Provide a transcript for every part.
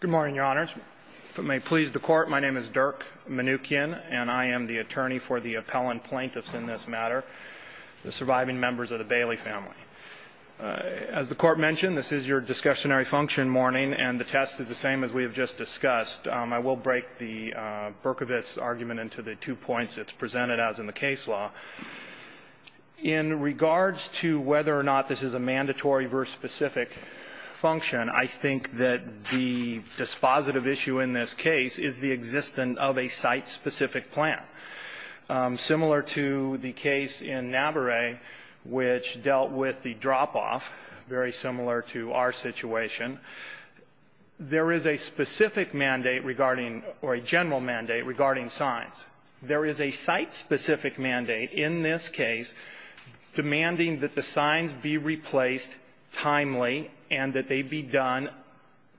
Good morning, Your Honors. If it may please the Court, my name is Dirk Manoukian, and I am the attorney for the appellant plaintiffs in this matter, the surviving members of the Bailey family. As the Court mentioned, this is your discussionary function morning, and the test is the same as we have just discussed. I will break the Berkovitz argument into the two points. It's presented as in the case law. In regards to whether or not this is a mandatory versus specific function, I think that the dispositive issue in this case is the existence of a site-specific plan. Similar to the case in Naberet, which dealt with the drop-off, very similar to our situation, there is a specific mandate regarding, or a general mandate regarding signs. There is a site-specific mandate in this case demanding that the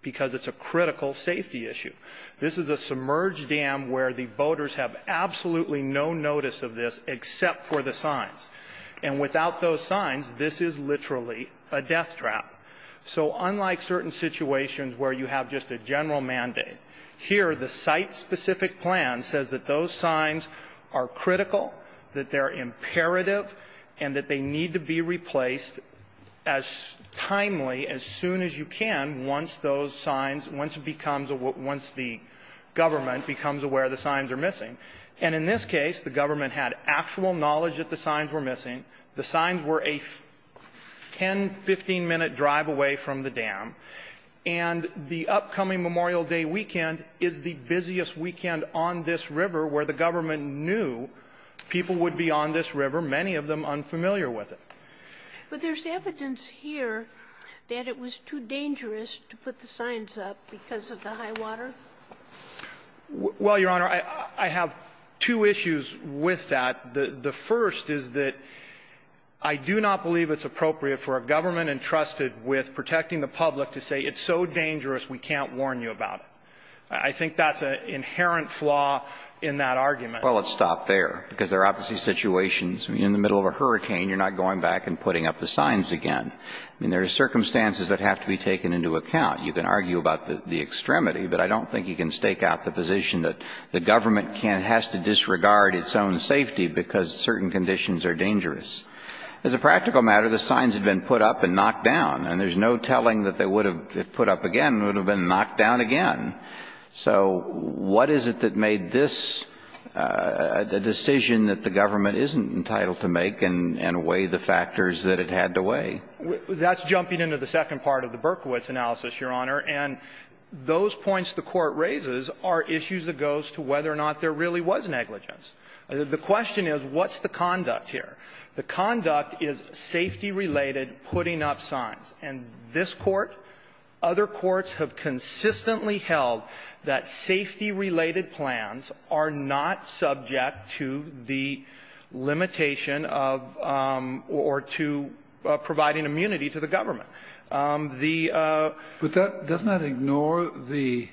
because it's a critical safety issue. This is a submerged dam where the boaters have absolutely no notice of this except for the signs. And without those signs, this is literally a deathtrap. So unlike certain situations where you have just a general mandate, here the site-specific plan says that those signs are critical, that they're imperative, and that they need to be replaced as timely, as soon as you can, once those signs, once it becomes a what the government becomes aware the signs are missing. And in this case, the government had actual knowledge that the signs were missing. The signs were a 10, 15-minute drive away from the dam. And the upcoming Memorial Day weekend is the busiest weekend on this river where the government knew people would be on this river, many of them unfamiliar with it. But there's evidence here that it was too dangerous to put the signs up because of the high water? Well, Your Honor, I have two issues with that. The first is that I do not believe it's appropriate for a government entrusted with protecting the public to say it's so dangerous we can't warn you about it. I think that's an inherent flaw in that argument. Well, let's stop there, because there are obviously situations. I mean, in the middle of a hurricane, you're not going back and putting up the signs again. There are circumstances that have to be taken into account. You can argue about the extremity, but I don't think you can stake out the position that the government has to disregard its own safety because certain conditions are dangerous. As a practical matter, the signs had been put up and knocked down, and there's no telling that they would have, if put up again, would have been knocked down again. So what is it that made this a decision that the government isn't entitled to make and weigh the factors that it had to weigh? That's jumping into the second part of the Berkowitz analysis, Your Honor. And those points the Court raises are issues that goes to whether or not there really was negligence. The question is, what's the conduct here? The conduct is safety-related putting up signs. And this Court, other courts have consistently held that safety-related plans are not subject to the limitation of or to providing immunity to the government. The ---- But that does not ignore the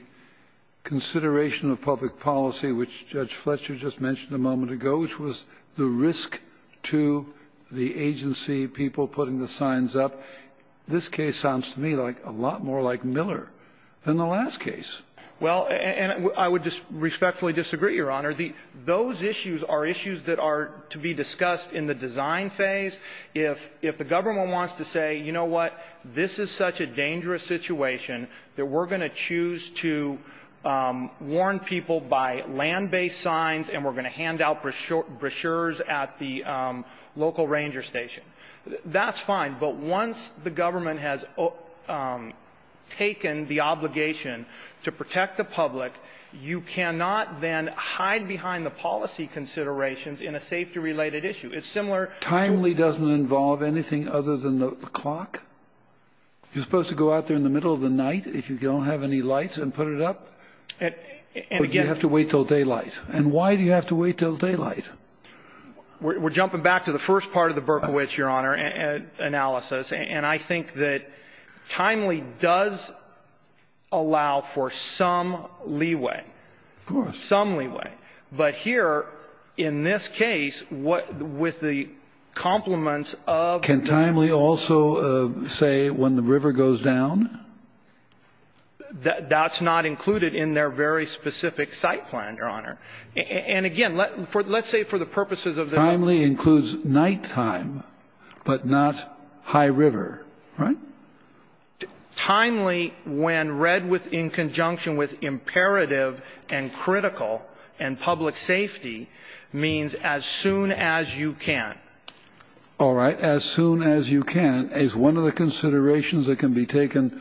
consideration of public policy, which Judge Fletcher just mentioned a moment ago, which was the risk to the agency, people putting the signs up. This case sounds to me like a lot more like Miller than the last case. Well, and I would respectfully disagree, Your Honor. Those issues are issues that are to be discussed in the design phase. If the government wants to say, you know what, this is such a dangerous situation that we're going to choose to warn people by land-based signs and we're going to hand out brochures at the local ranger station, that's fine. But once the government has taken the obligation to protect the public, you cannot then hide behind the policy considerations in a safety-related issue. It's similar to ---- Timely doesn't involve anything other than the clock? You're supposed to go out there in the middle of the night if you don't have any lights and put it up? And again ---- Or do you have to wait until daylight? And why do you have to wait until daylight? We're jumping back to the first part of the Berkowitz, Your Honor, analysis. And I think that Timely does allow for some leeway. Of course. Some leeway. But here, in this case, with the complements of the ---- Can Timely also say when the river goes down? That's not included in their very specific site plan, Your Honor. And again, let's say for the purposes of this ---- Timely includes nighttime, but not high river, right? Timely, when read in conjunction with imperative and critical and public safety, means as soon as you can. All right. As soon as you can is one of the considerations that can be taken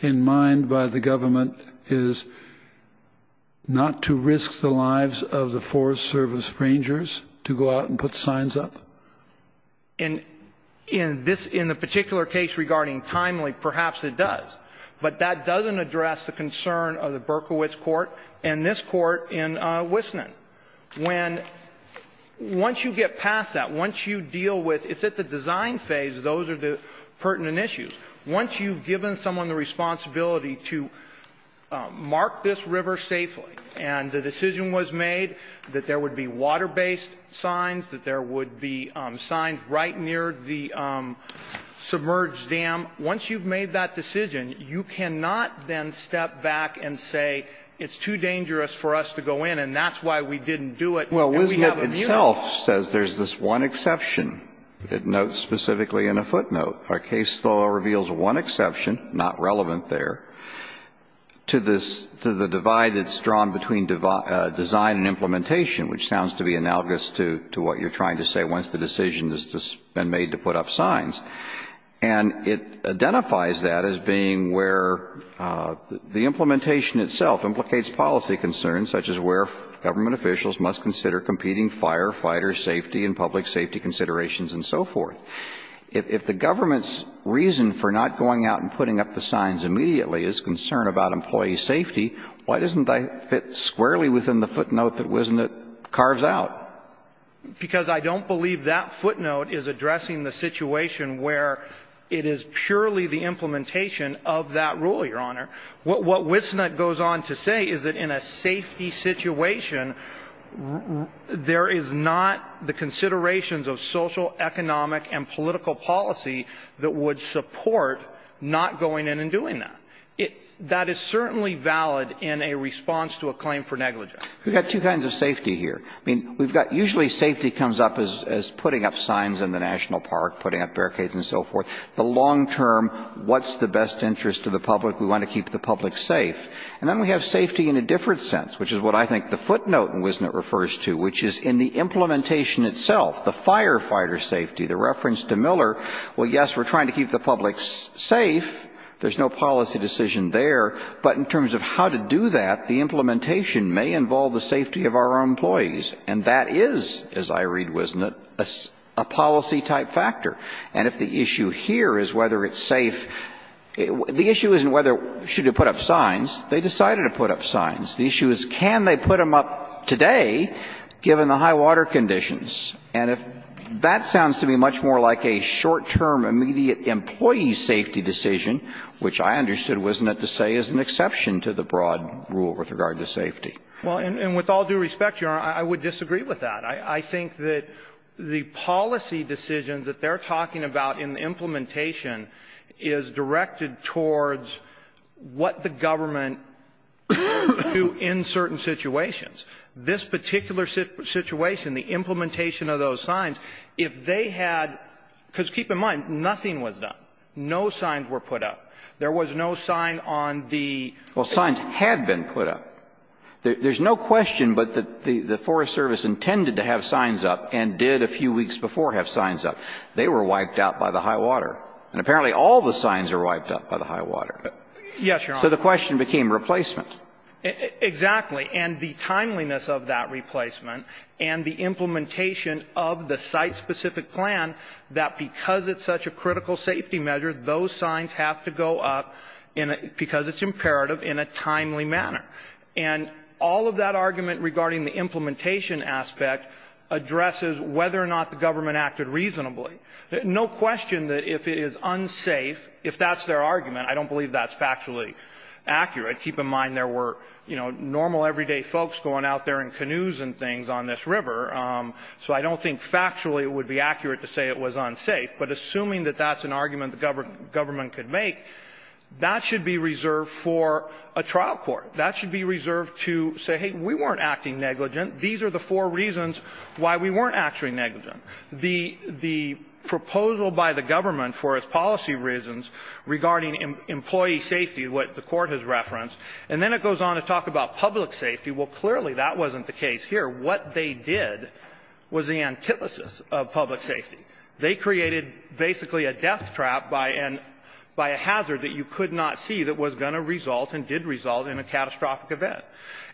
in mind by the government is not to risk the lives of the Forest Service rangers to go out and put signs up. And in this ---- in the particular case regarding Timely, perhaps it does. But that doesn't address the concern of the Berkowitz court and this court in Wisnon. When ---- once you get past that, once you deal with ---- it's at the design phase, those are the pertinent issues. Once you've given someone the responsibility to mark this river safely and the decision was made that there would be water-based signs, that there would be signs right near the submerged dam, once you've made that decision, you cannot then step back and say it's too dangerous for us to go in and that's why we didn't do it and we have immunity. The statute itself says there's this one exception. It notes specifically in a footnote. Our case law reveals one exception, not relevant there, to this ---- to the divide that's drawn between design and implementation, which sounds to be analogous to what you're trying to say once the decision has been made to put up signs. And it identifies that as being where the implementation itself implicates policy concerns such as where government officials must consider competing firefighters' safety and public safety considerations and so forth. If the government's reason for not going out and putting up the signs immediately is concern about employee safety, why doesn't that fit squarely within the footnote that Wisnot carves out? Because I don't believe that footnote is addressing the situation where it is purely the implementation of that rule, Your Honor. What Wisnot goes on to say is that in a safety situation, there is not the considerations of social, economic, and political policy that would support not going in and doing that. That is certainly valid in a response to a claim for negligence. We've got two kinds of safety here. I mean, we've got ---- usually safety comes up as putting up signs in the national park, putting up barricades and so forth. The long-term, what's the best interest of the public? We want to keep the public safe. And then we have safety in a different sense, which is what I think the footnote in Wisnot refers to, which is in the implementation itself, the firefighter safety, the reference to Miller. Well, yes, we're trying to keep the public safe. There's no policy decision there. But in terms of how to do that, the implementation may involve the safety of our employees. And that is, as I read Wisnot, a policy-type factor. And if the issue here is whether it's safe, the issue isn't whether should you put up signs. They decided to put up signs. The issue is can they put them up today, given the high water conditions. And if that sounds to me much more like a short-term, immediate employee safety decision, which I understood Wisnot to say is an exception to the broad rule with regard to safety. Well, and with all due respect, Your Honor, I would disagree with that. I think that the policy decisions that they're talking about in the implementation is directed towards what the government do in certain situations. This particular situation, the implementation of those signs, if they had — because, keep in mind, nothing was done. No signs were put up. There was no sign on the — Well, signs had been put up. There's no question, but the Forest Service intended to have signs up and did a few weeks before have signs up. They were wiped out by the high water. And apparently all the signs are wiped up by the high water. Yes, Your Honor. So the question became replacement. Exactly. And the timeliness of that replacement and the implementation of the site-specific plan, that because it's such a critical safety measure, those signs have to go up because it's imperative in a timely manner. And all of that argument regarding the implementation aspect addresses whether or not the government acted reasonably. No question that if it is unsafe, if that's their argument, I don't believe that's factually accurate. Keep in mind there were, you know, normal, everyday folks going out there in canoes and things on this river. So I don't think factually it would be accurate to say it was unsafe. But assuming that that's an argument the government could make, that should be reserved for a trial court. That should be reserved to say, hey, we weren't acting negligent. These are the four reasons why we weren't actually negligent. The proposal by the government for its policy reasons regarding employee safety, what the Court has referenced, and then it goes on to talk about public safety. Well, clearly that wasn't the case here. What they did was the antithesis of public safety. They created basically a death trap by a hazard that you could not see that was going to result and did result in a catastrophic event.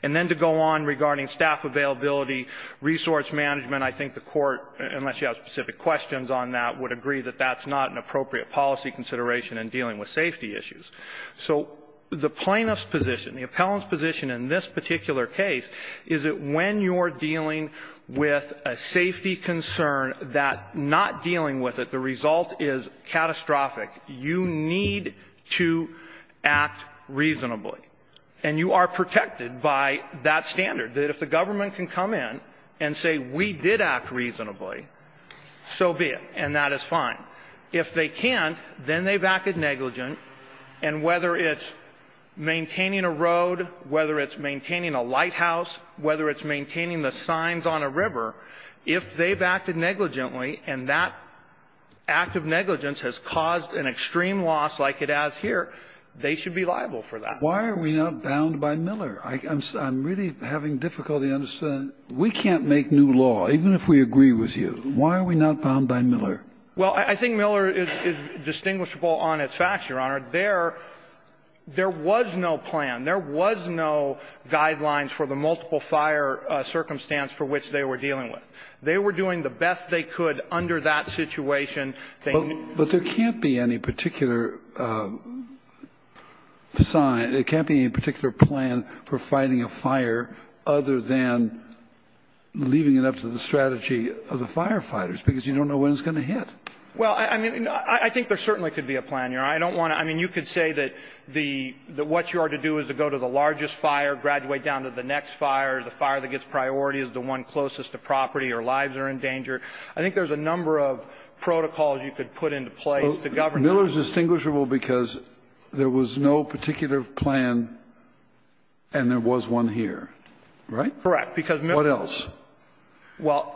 And then to go on regarding staff availability, resource management, I think the Court, unless you have specific questions on that, would agree that that's not an appropriate policy consideration in dealing with safety issues. So the plaintiff's position, the appellant's position in this particular case is that when you're dealing with a safety concern that not dealing with it, the result is catastrophic. You need to act reasonably. And you are protected by that standard, that if the government can come in and say we did act reasonably, so be it, and that is fine. If they can't, then they've acted negligent. And whether it's maintaining a road, whether it's maintaining a lighthouse, whether it's maintaining the signs on a river, if they've acted negligently and that act of negligence has caused an extreme loss like it has here, they should be liable for that. Kennedy. Why are we not bound by Miller? I'm really having difficulty understanding. We can't make new law, even if we agree with you. Why are we not bound by Miller? Well, I think Miller is distinguishable on its facts, Your Honor. There was no plan. There was no guidelines for the multiple-fire circumstance for which they were dealing with. They were doing the best they could under that situation. But there can't be any particular sign, there can't be any particular plan for fighting a fire other than leaving it up to the strategy of the firefighters, because you don't know when it's going to hit. Well, I mean, I think there certainly could be a plan, Your Honor. I don't want to – I mean, you could say that the – that what you are to do is to go to the largest fire, graduate down to the next fire, the fire that gets priority is the one closest to property or lives are in danger. I think there's a number of protocols you could put into place to govern that. Miller is distinguishable because there was no particular plan and there was one here, right? Correct. Because Miller was – What else?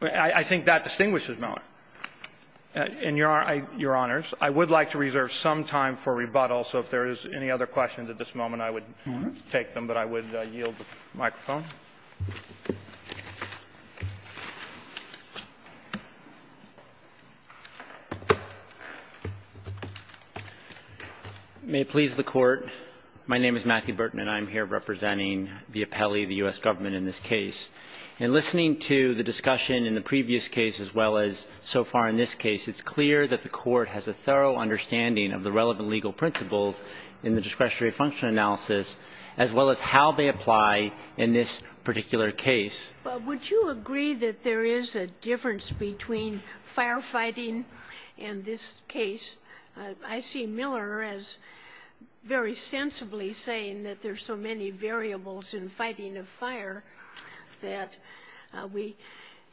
Well, I think that distinguishes Miller. And Your Honor, I would like to reserve some time for rebuttal, so if there is any other questions at this moment, I would take them, but I would yield the microphone. May it please the Court, my name is Matthew Burton and I'm here representing the appellee of the U.S. Government in this case. In listening to the discussion in the previous case as well as so far in this case, it's clear that the Court has a thorough understanding of the relevant legal principles in the discretionary function analysis, as well as how they apply in this particular case. But would you agree that there is a difference between firefighting and this case? I see Miller as very sensibly saying that there's so many variables in fighting a fire that we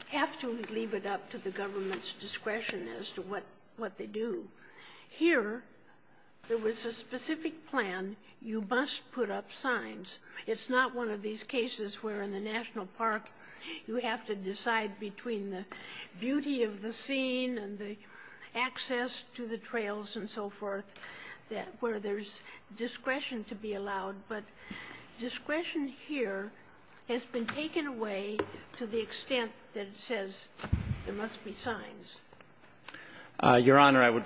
have to leave it up to the government's discretion as to what they do. Here, there was a specific plan, you must put up signs. It's not one of these cases where in the national park you have to decide between the beauty of the scene and the access to the trails and so forth, where there's discretion to be allowed. But discretion here has been taken away to the extent that it says there must be signs. Your Honor, I would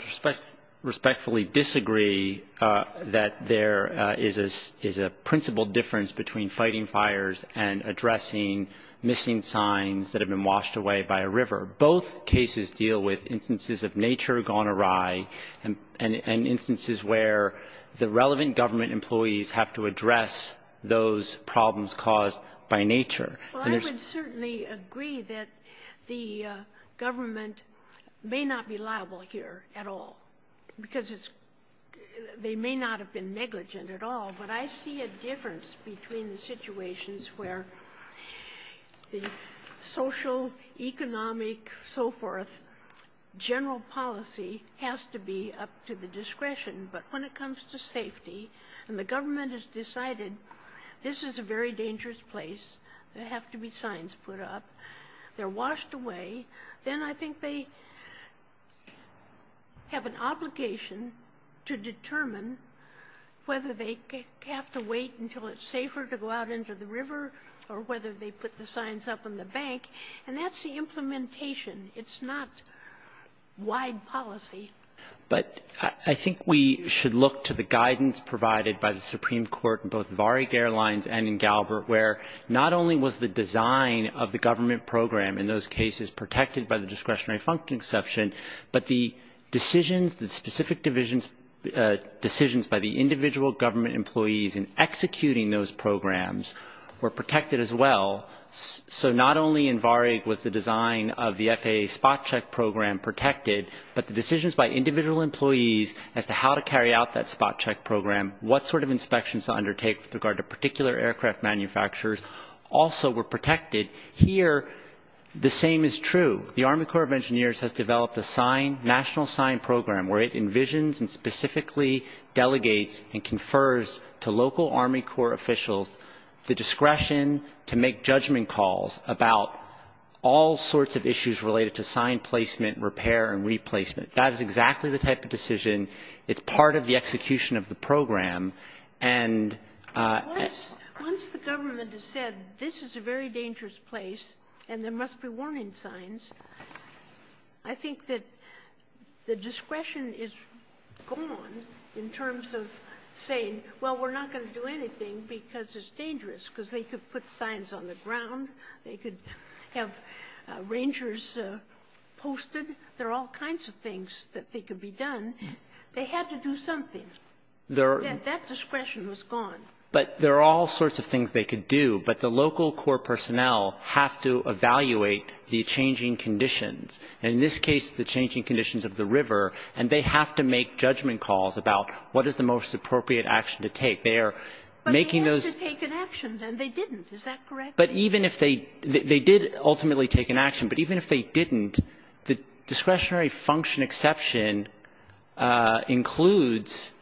respectfully disagree that there is a principle difference between fighting fires and addressing missing signs that have been washed away by a river. Both cases deal with instances of nature gone awry and instances where the relevant government employees have to address those problems caused by nature. Well, I would certainly agree that the government may not be liable here at all, because they may not have been negligent at all. But I see a difference between the situations where the social, economic, so forth, general policy has to be up to the discretion. But when it comes to safety, and the government has decided this is a very dangerous place, there have to be signs put up, they're washed away, then I think they have an obligation to determine whether they have to wait until it's safer to go out into the river or whether they put the signs up on the bank. And that's the implementation. It's not wide policy. But I think we should look to the guidance provided by the Supreme Court in both cases where not only was the design of the government program in those cases protected by the discretionary function exception, but the decisions, the specific decisions by the individual government employees in executing those programs were protected as well. So not only in Varig was the design of the FAA spot check program protected, but the decisions by individual employees as to how to carry out that spot check program, what sort of inspections to undertake with regard to particular aircraft manufacturers also were protected. Here, the same is true. The Army Corps of Engineers has developed a sign, national sign program where it envisions and specifically delegates and confers to local Army Corps officials the discretion to make judgment calls about all sorts of issues related to sign placement, repair, and replacement. That is exactly the type of decision. It's part of the execution of the program. And — Once the government has said this is a very dangerous place and there must be warning signs, I think that the discretion is gone in terms of saying, well, we're not going to do anything because it's dangerous, because they could put signs on the ground, they could have rangers posted, there are all kinds of things that they could be done. They had to do something. That discretion was gone. But there are all sorts of things they could do. But the local corps personnel have to evaluate the changing conditions, and in this case, the changing conditions of the river, and they have to make judgment calls about what is the most appropriate action to take. They are making those — But they had to take an action, and they didn't. Is that correct? But even if they — they did ultimately take an action, but even if they didn't, the discretionary function exception includes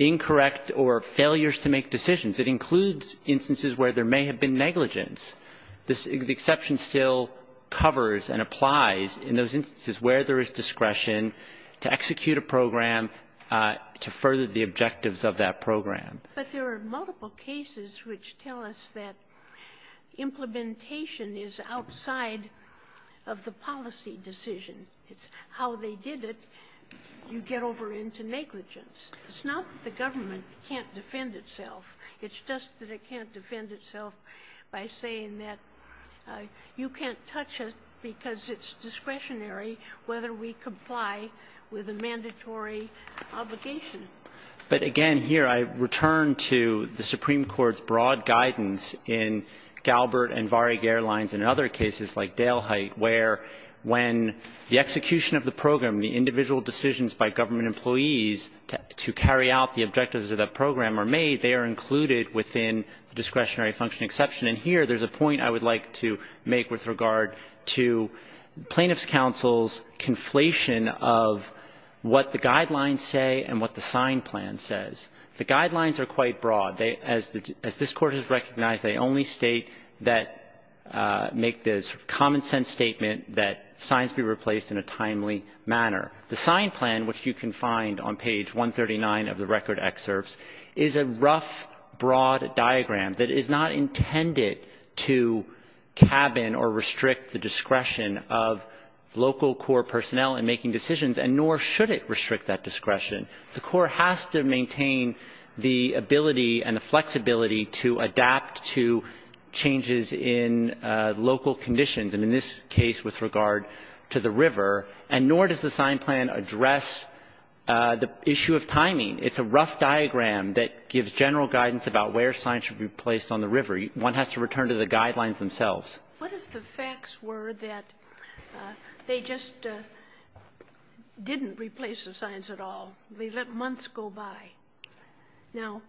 incorrect or failures to make decisions. It includes instances where there may have been negligence. The exception still covers and applies in those instances where there is discretion to execute a program to further the objectives of that program. But there are multiple cases which tell us that implementation is outside of the policy decision. It's how they did it, you get over into negligence. It's not that the government can't defend itself. It's just that it can't defend itself by saying that you can't touch it because it's discretionary whether we comply with a mandatory obligation. But again, here I return to the Supreme Court's broad guidance in Galbert and Varig Airlines and other cases like Dale Height, where when the execution of the program, the individual decisions by government employees to carry out the objectives of that program are made, they are included within the discretionary function exception. And here there's a point I would like to make with regard to plaintiff's counsel's conflation of what the guidelines say and what the sign plan says. The guidelines are quite broad. As this Court has recognized, they only state that make this common-sense statement that signs be replaced in a timely manner. The sign plan, which you can find on page 139 of the record excerpts, is a rough, broad diagram that is not intended to cabin or restrict the discretion of local court personnel in making decisions, and nor should it restrict that discretion. The court has to maintain the ability and the flexibility to adapt to changes in local conditions, and in this case with regard to the river. And nor does the sign plan address the issue of timing. It's a rough diagram that gives general guidance about where signs should be placed on the river. One has to return to the guidelines themselves. What if the facts were that they just didn't replace the signs at all? They let months go by. Now,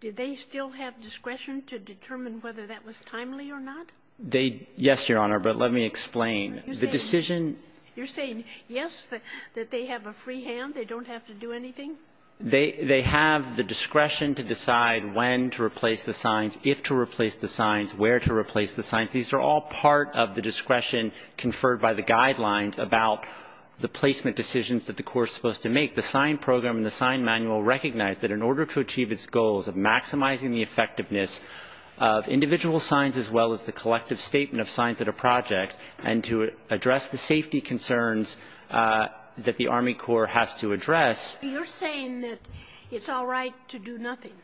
did they still have discretion to determine whether that was timely or not? They did, yes, Your Honor, but let me explain. The decision You're saying yes, that they have a free hand, they don't have to do anything? They have the discretion to decide when to replace the signs, if to replace the signs, where to replace the signs. These are all part of the discretion conferred by the guidelines about the placement decisions that the court is supposed to make. The sign program and the sign manual recognize that in order to achieve its goals of maximizing the effectiveness of individual signs as well as the collective statement of signs at a project and to address the safety concerns that the Army Corps has to address. You're saying that it's all right to do nothing.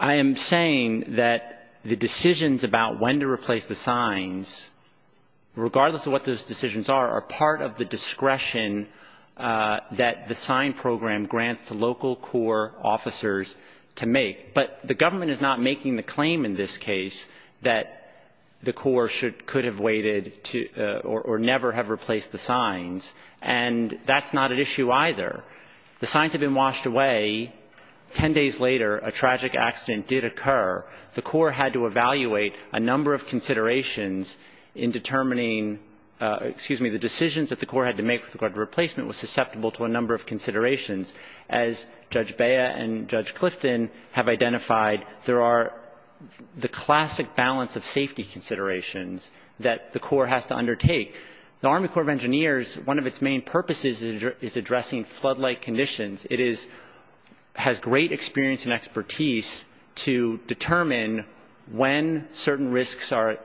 I am saying that the decisions about when to replace the signs, regardless of what those decisions are, are part of the discretion that the sign program grants to local Corps officers to make. But the government is not making the claim in this case that the Corps should, could have waited to or never have replaced the signs. And that's not an issue either. The signs have been washed away. Ten days later, a tragic accident did occur. The Corps had to evaluate a number of considerations in determining, excuse me, the decisions that the Corps had to make with regard to replacement was susceptible to a number of considerations. As Judge Bea and Judge Clifton have identified, there are the classic balance of safety considerations that the Corps has to undertake. The Army Corps of Engineers, one of its main purposes is addressing floodlight conditions. It has great experience and expertise to determine when certain risks are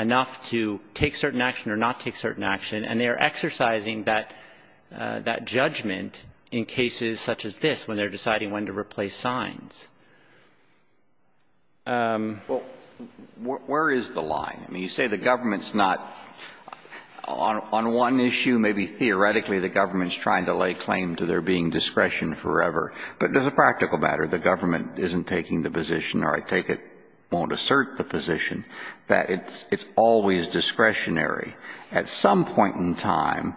enough to take certain action or not take certain action. And they are exercising that judgment in cases such as this, when they're deciding when to replace signs. Where is the line? I mean, you say the government's not, on one issue, maybe theoretically the government's trying to lay claim to there being discretion forever. But as a practical matter, the government isn't taking the position, or I take it won't assert the position, that it's always discretionary. At some point in time,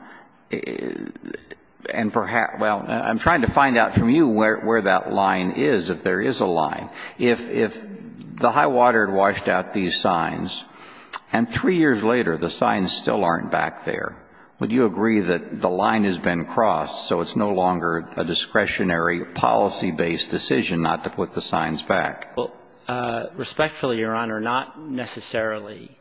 and perhaps, well, I'm trying to find out from you where that line is, if there is a line. If the high water had washed out these signs, and three years later the signs still aren't back there, would you agree that the line has been crossed, so it's no longer a discretionary policy-based decision not to put the signs back? Respectfully, Your Honor, not necessarily.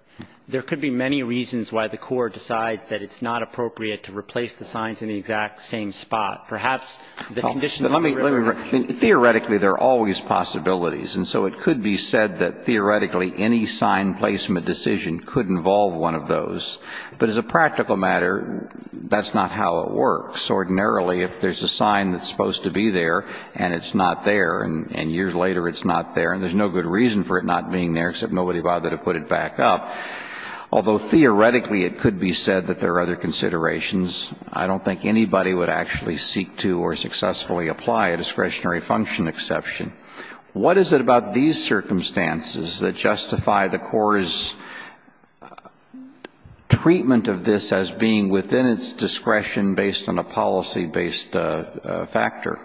There could be many reasons why the Corps decides that it's not appropriate to replace the signs in the exact same spot. Perhaps the conditions of the river were different. I mean, theoretically, there are always possibilities. And so it could be said that theoretically any sign placement decision could involve one of those. But as a practical matter, that's not how it works. Ordinarily, if there's a sign that's supposed to be there, and it's not there, and years later it's not there, and there's no good reason for it not being there, except nobody bothered to put it back up, although theoretically it could be said that there are other considerations, I don't think anybody would actually seek to or successfully apply a discretionary function exception. What is it about these circumstances that justify the Corps' treatment of this as being within its discretion based on a policy-based factor?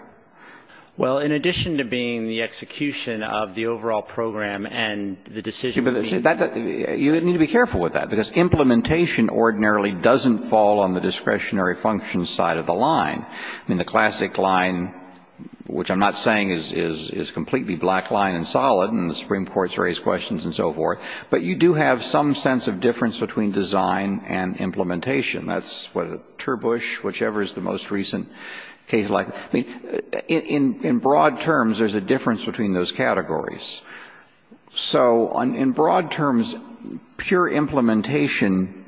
Well, in addition to being the execution of the overall program and the decision to be You need to be careful with that, because implementation ordinarily doesn't fall on the discretionary function side of the line. I mean, the classic line, which I'm not saying is completely black line and solid, and the Supreme Court's raised questions and so forth, but you do have some sense of difference between design and implementation. That's what Turbush, whichever is the most recent case, like, I mean, in broad terms there's a difference between those categories. So in broad terms, pure implementation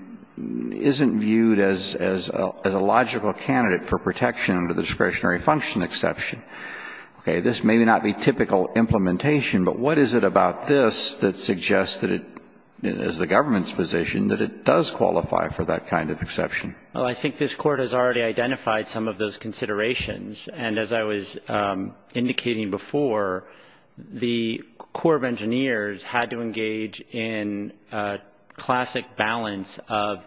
isn't viewed as a logical candidate for protection under the discretionary function exception. Okay, this may not be typical implementation, but what is it about this that suggests that it, as the government's position, that it does qualify for that kind of exception? Well, I think this Court has already identified some of those considerations. And as I was indicating before, the Corps of Engineers had to engage in a classic balance of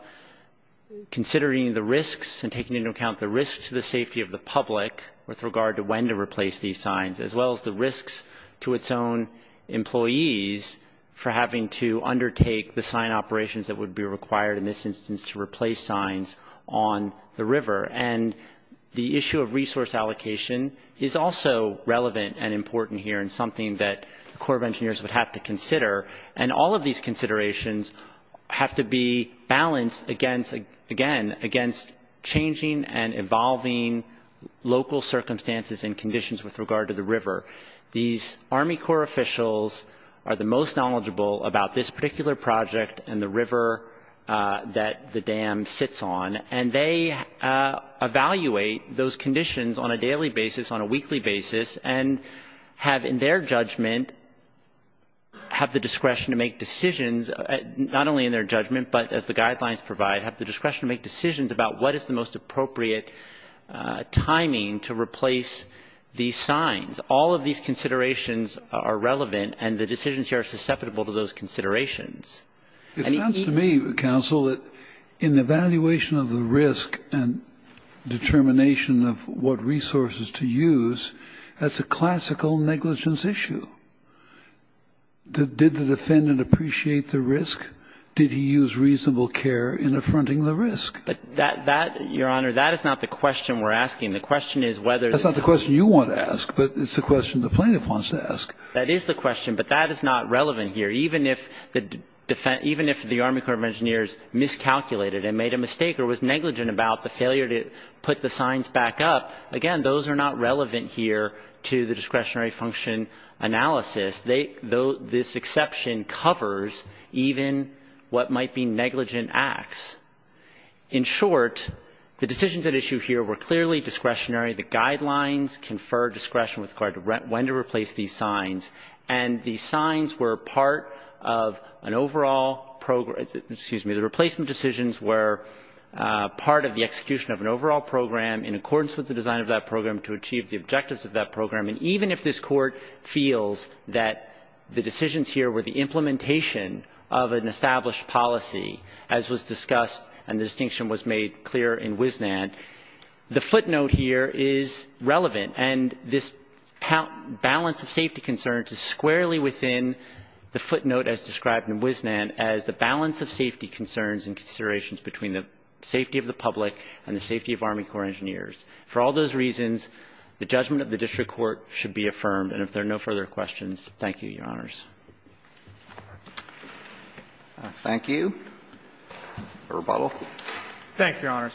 considering the risks and taking into account the risks to the safety of the public with regard to when to replace these signs, as well as the risks to its own employees for having to undertake the sign operations that would be required in this instance to replace signs on the river. And the issue of resource allocation is also relevant and important here and something that the Corps of Engineers would have to consider. And all of these considerations have to be balanced against, again, against changing and evolving local circumstances and conditions with regard to the river. These Army Corps officials are the most knowledgeable about this particular project and the river that the dam sits on. And they evaluate those conditions on a daily basis, on a weekly basis, and have, in their judgment, have the discretion to make decisions, not only in their judgment, but as the guidelines provide, have the discretion to make decisions about what is the most appropriate timing to replace these signs. All of these considerations are relevant and the decisions here are susceptible to those considerations. It sounds to me, Counsel, that in the evaluation of the risk and determination of what resources to use, that's a classical negligence issue. Did the defendant appreciate the risk? Did he use reasonable care in affronting the risk? But that, Your Honor, that is not the question we're asking. The question is whether the That's not the question you want to ask, but it's the question the plaintiff wants to ask. That is the question. But that is not relevant here. Even if the Army Corps of Engineers miscalculated and made a mistake or was negligent about the failure to put the signs back up, again, those are not relevant here to the discretionary function analysis. This exception covers even what might be negligent acts. In short, the decisions at issue here were clearly discretionary. The guidelines confer discretion with regard to when to replace these signs. And the signs were part of an overall program Excuse me. The replacement decisions were part of the execution of an overall program in accordance with the design of that program to achieve the objectives of that program. And even if this Court feels that the decisions here were the implementation of an established policy, as was discussed and the distinction was made clear in Wisnant, the footnote here is relevant. And this balance of safety concerns is squarely within the footnote as described in Wisnant as the balance of safety concerns and considerations between the safety of the public and the safety of Army Corps of Engineers. For all those reasons, the judgment of the district court should be affirmed. And if there are no further questions, thank you, Your Honors. Roberts. Thank you. For rebuttal. Thank you, Your Honors.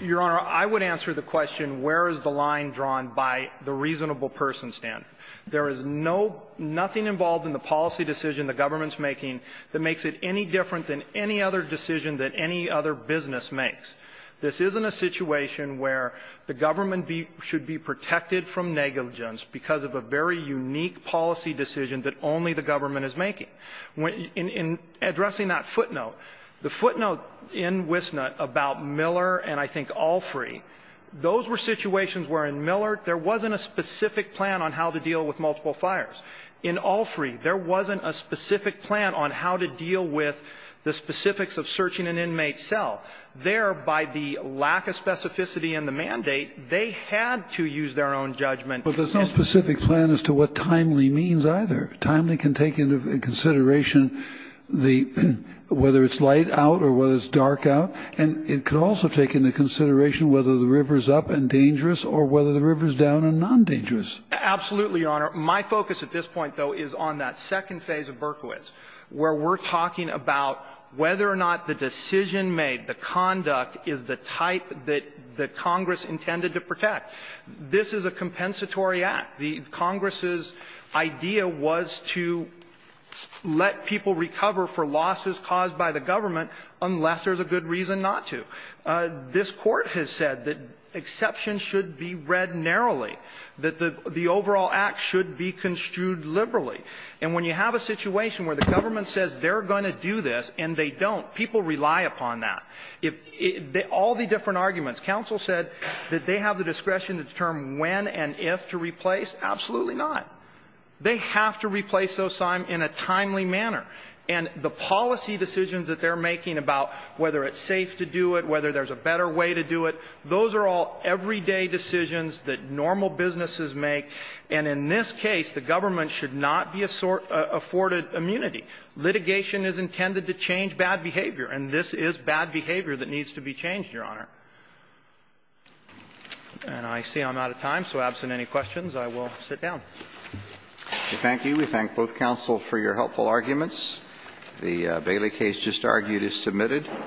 Your Honor, I would answer the question, where is the line drawn by the reasonable person standard? There is no – nothing involved in the policy decision the government's making that makes it any different than any other decision that any other business makes. This isn't a situation where the government be – should be protected from negligence because of a very unique policy decision that only the government is making. In addressing that footnote, the footnote in Wisnant about Miller and I think Allfree, those were situations where in Miller there wasn't a specific plan on how to deal with multiple fires. In Allfree, there wasn't a specific plan on how to deal with the specifics of searching an inmate cell. There, by the lack of specificity in the mandate, they had to use their own judgment. But there's no specific plan as to what timely means either. Timely can take into consideration the – whether it's light out or whether it's dark out. And it could also take into consideration whether the river's up and dangerous or whether the river's down and non-dangerous. Absolutely, Your Honor. My focus at this point, though, is on that second phase of Berkowitz, where we're talking about whether or not the decision made, the conduct, is the type that the Congress intended to protect. This is a compensatory act. The Congress's idea was to let people recover for losses caused by the government unless there's a good reason not to. This Court has said that exceptions should be read narrowly, that the overall act should be construed liberally. And when you have a situation where the government says they're going to do this and they don't, people rely upon that. If they – all the different arguments. Counsel said that they have the discretion to determine when and if to replace. Absolutely not. They have to replace those in a timely manner. And the policy decisions that they're making about whether it's safe to do it, whether there's a better way to do it, those are all everyday decisions that normal businesses make. And in this case, the government should not be afforded immunity. Litigation is intended to change bad behavior, and this is bad behavior that needs to be changed, Your Honor. And I see I'm out of time, so absent any questions, I will sit down. We thank you. We thank both counsel for your helpful arguments. The Bailey case just argued is submitted.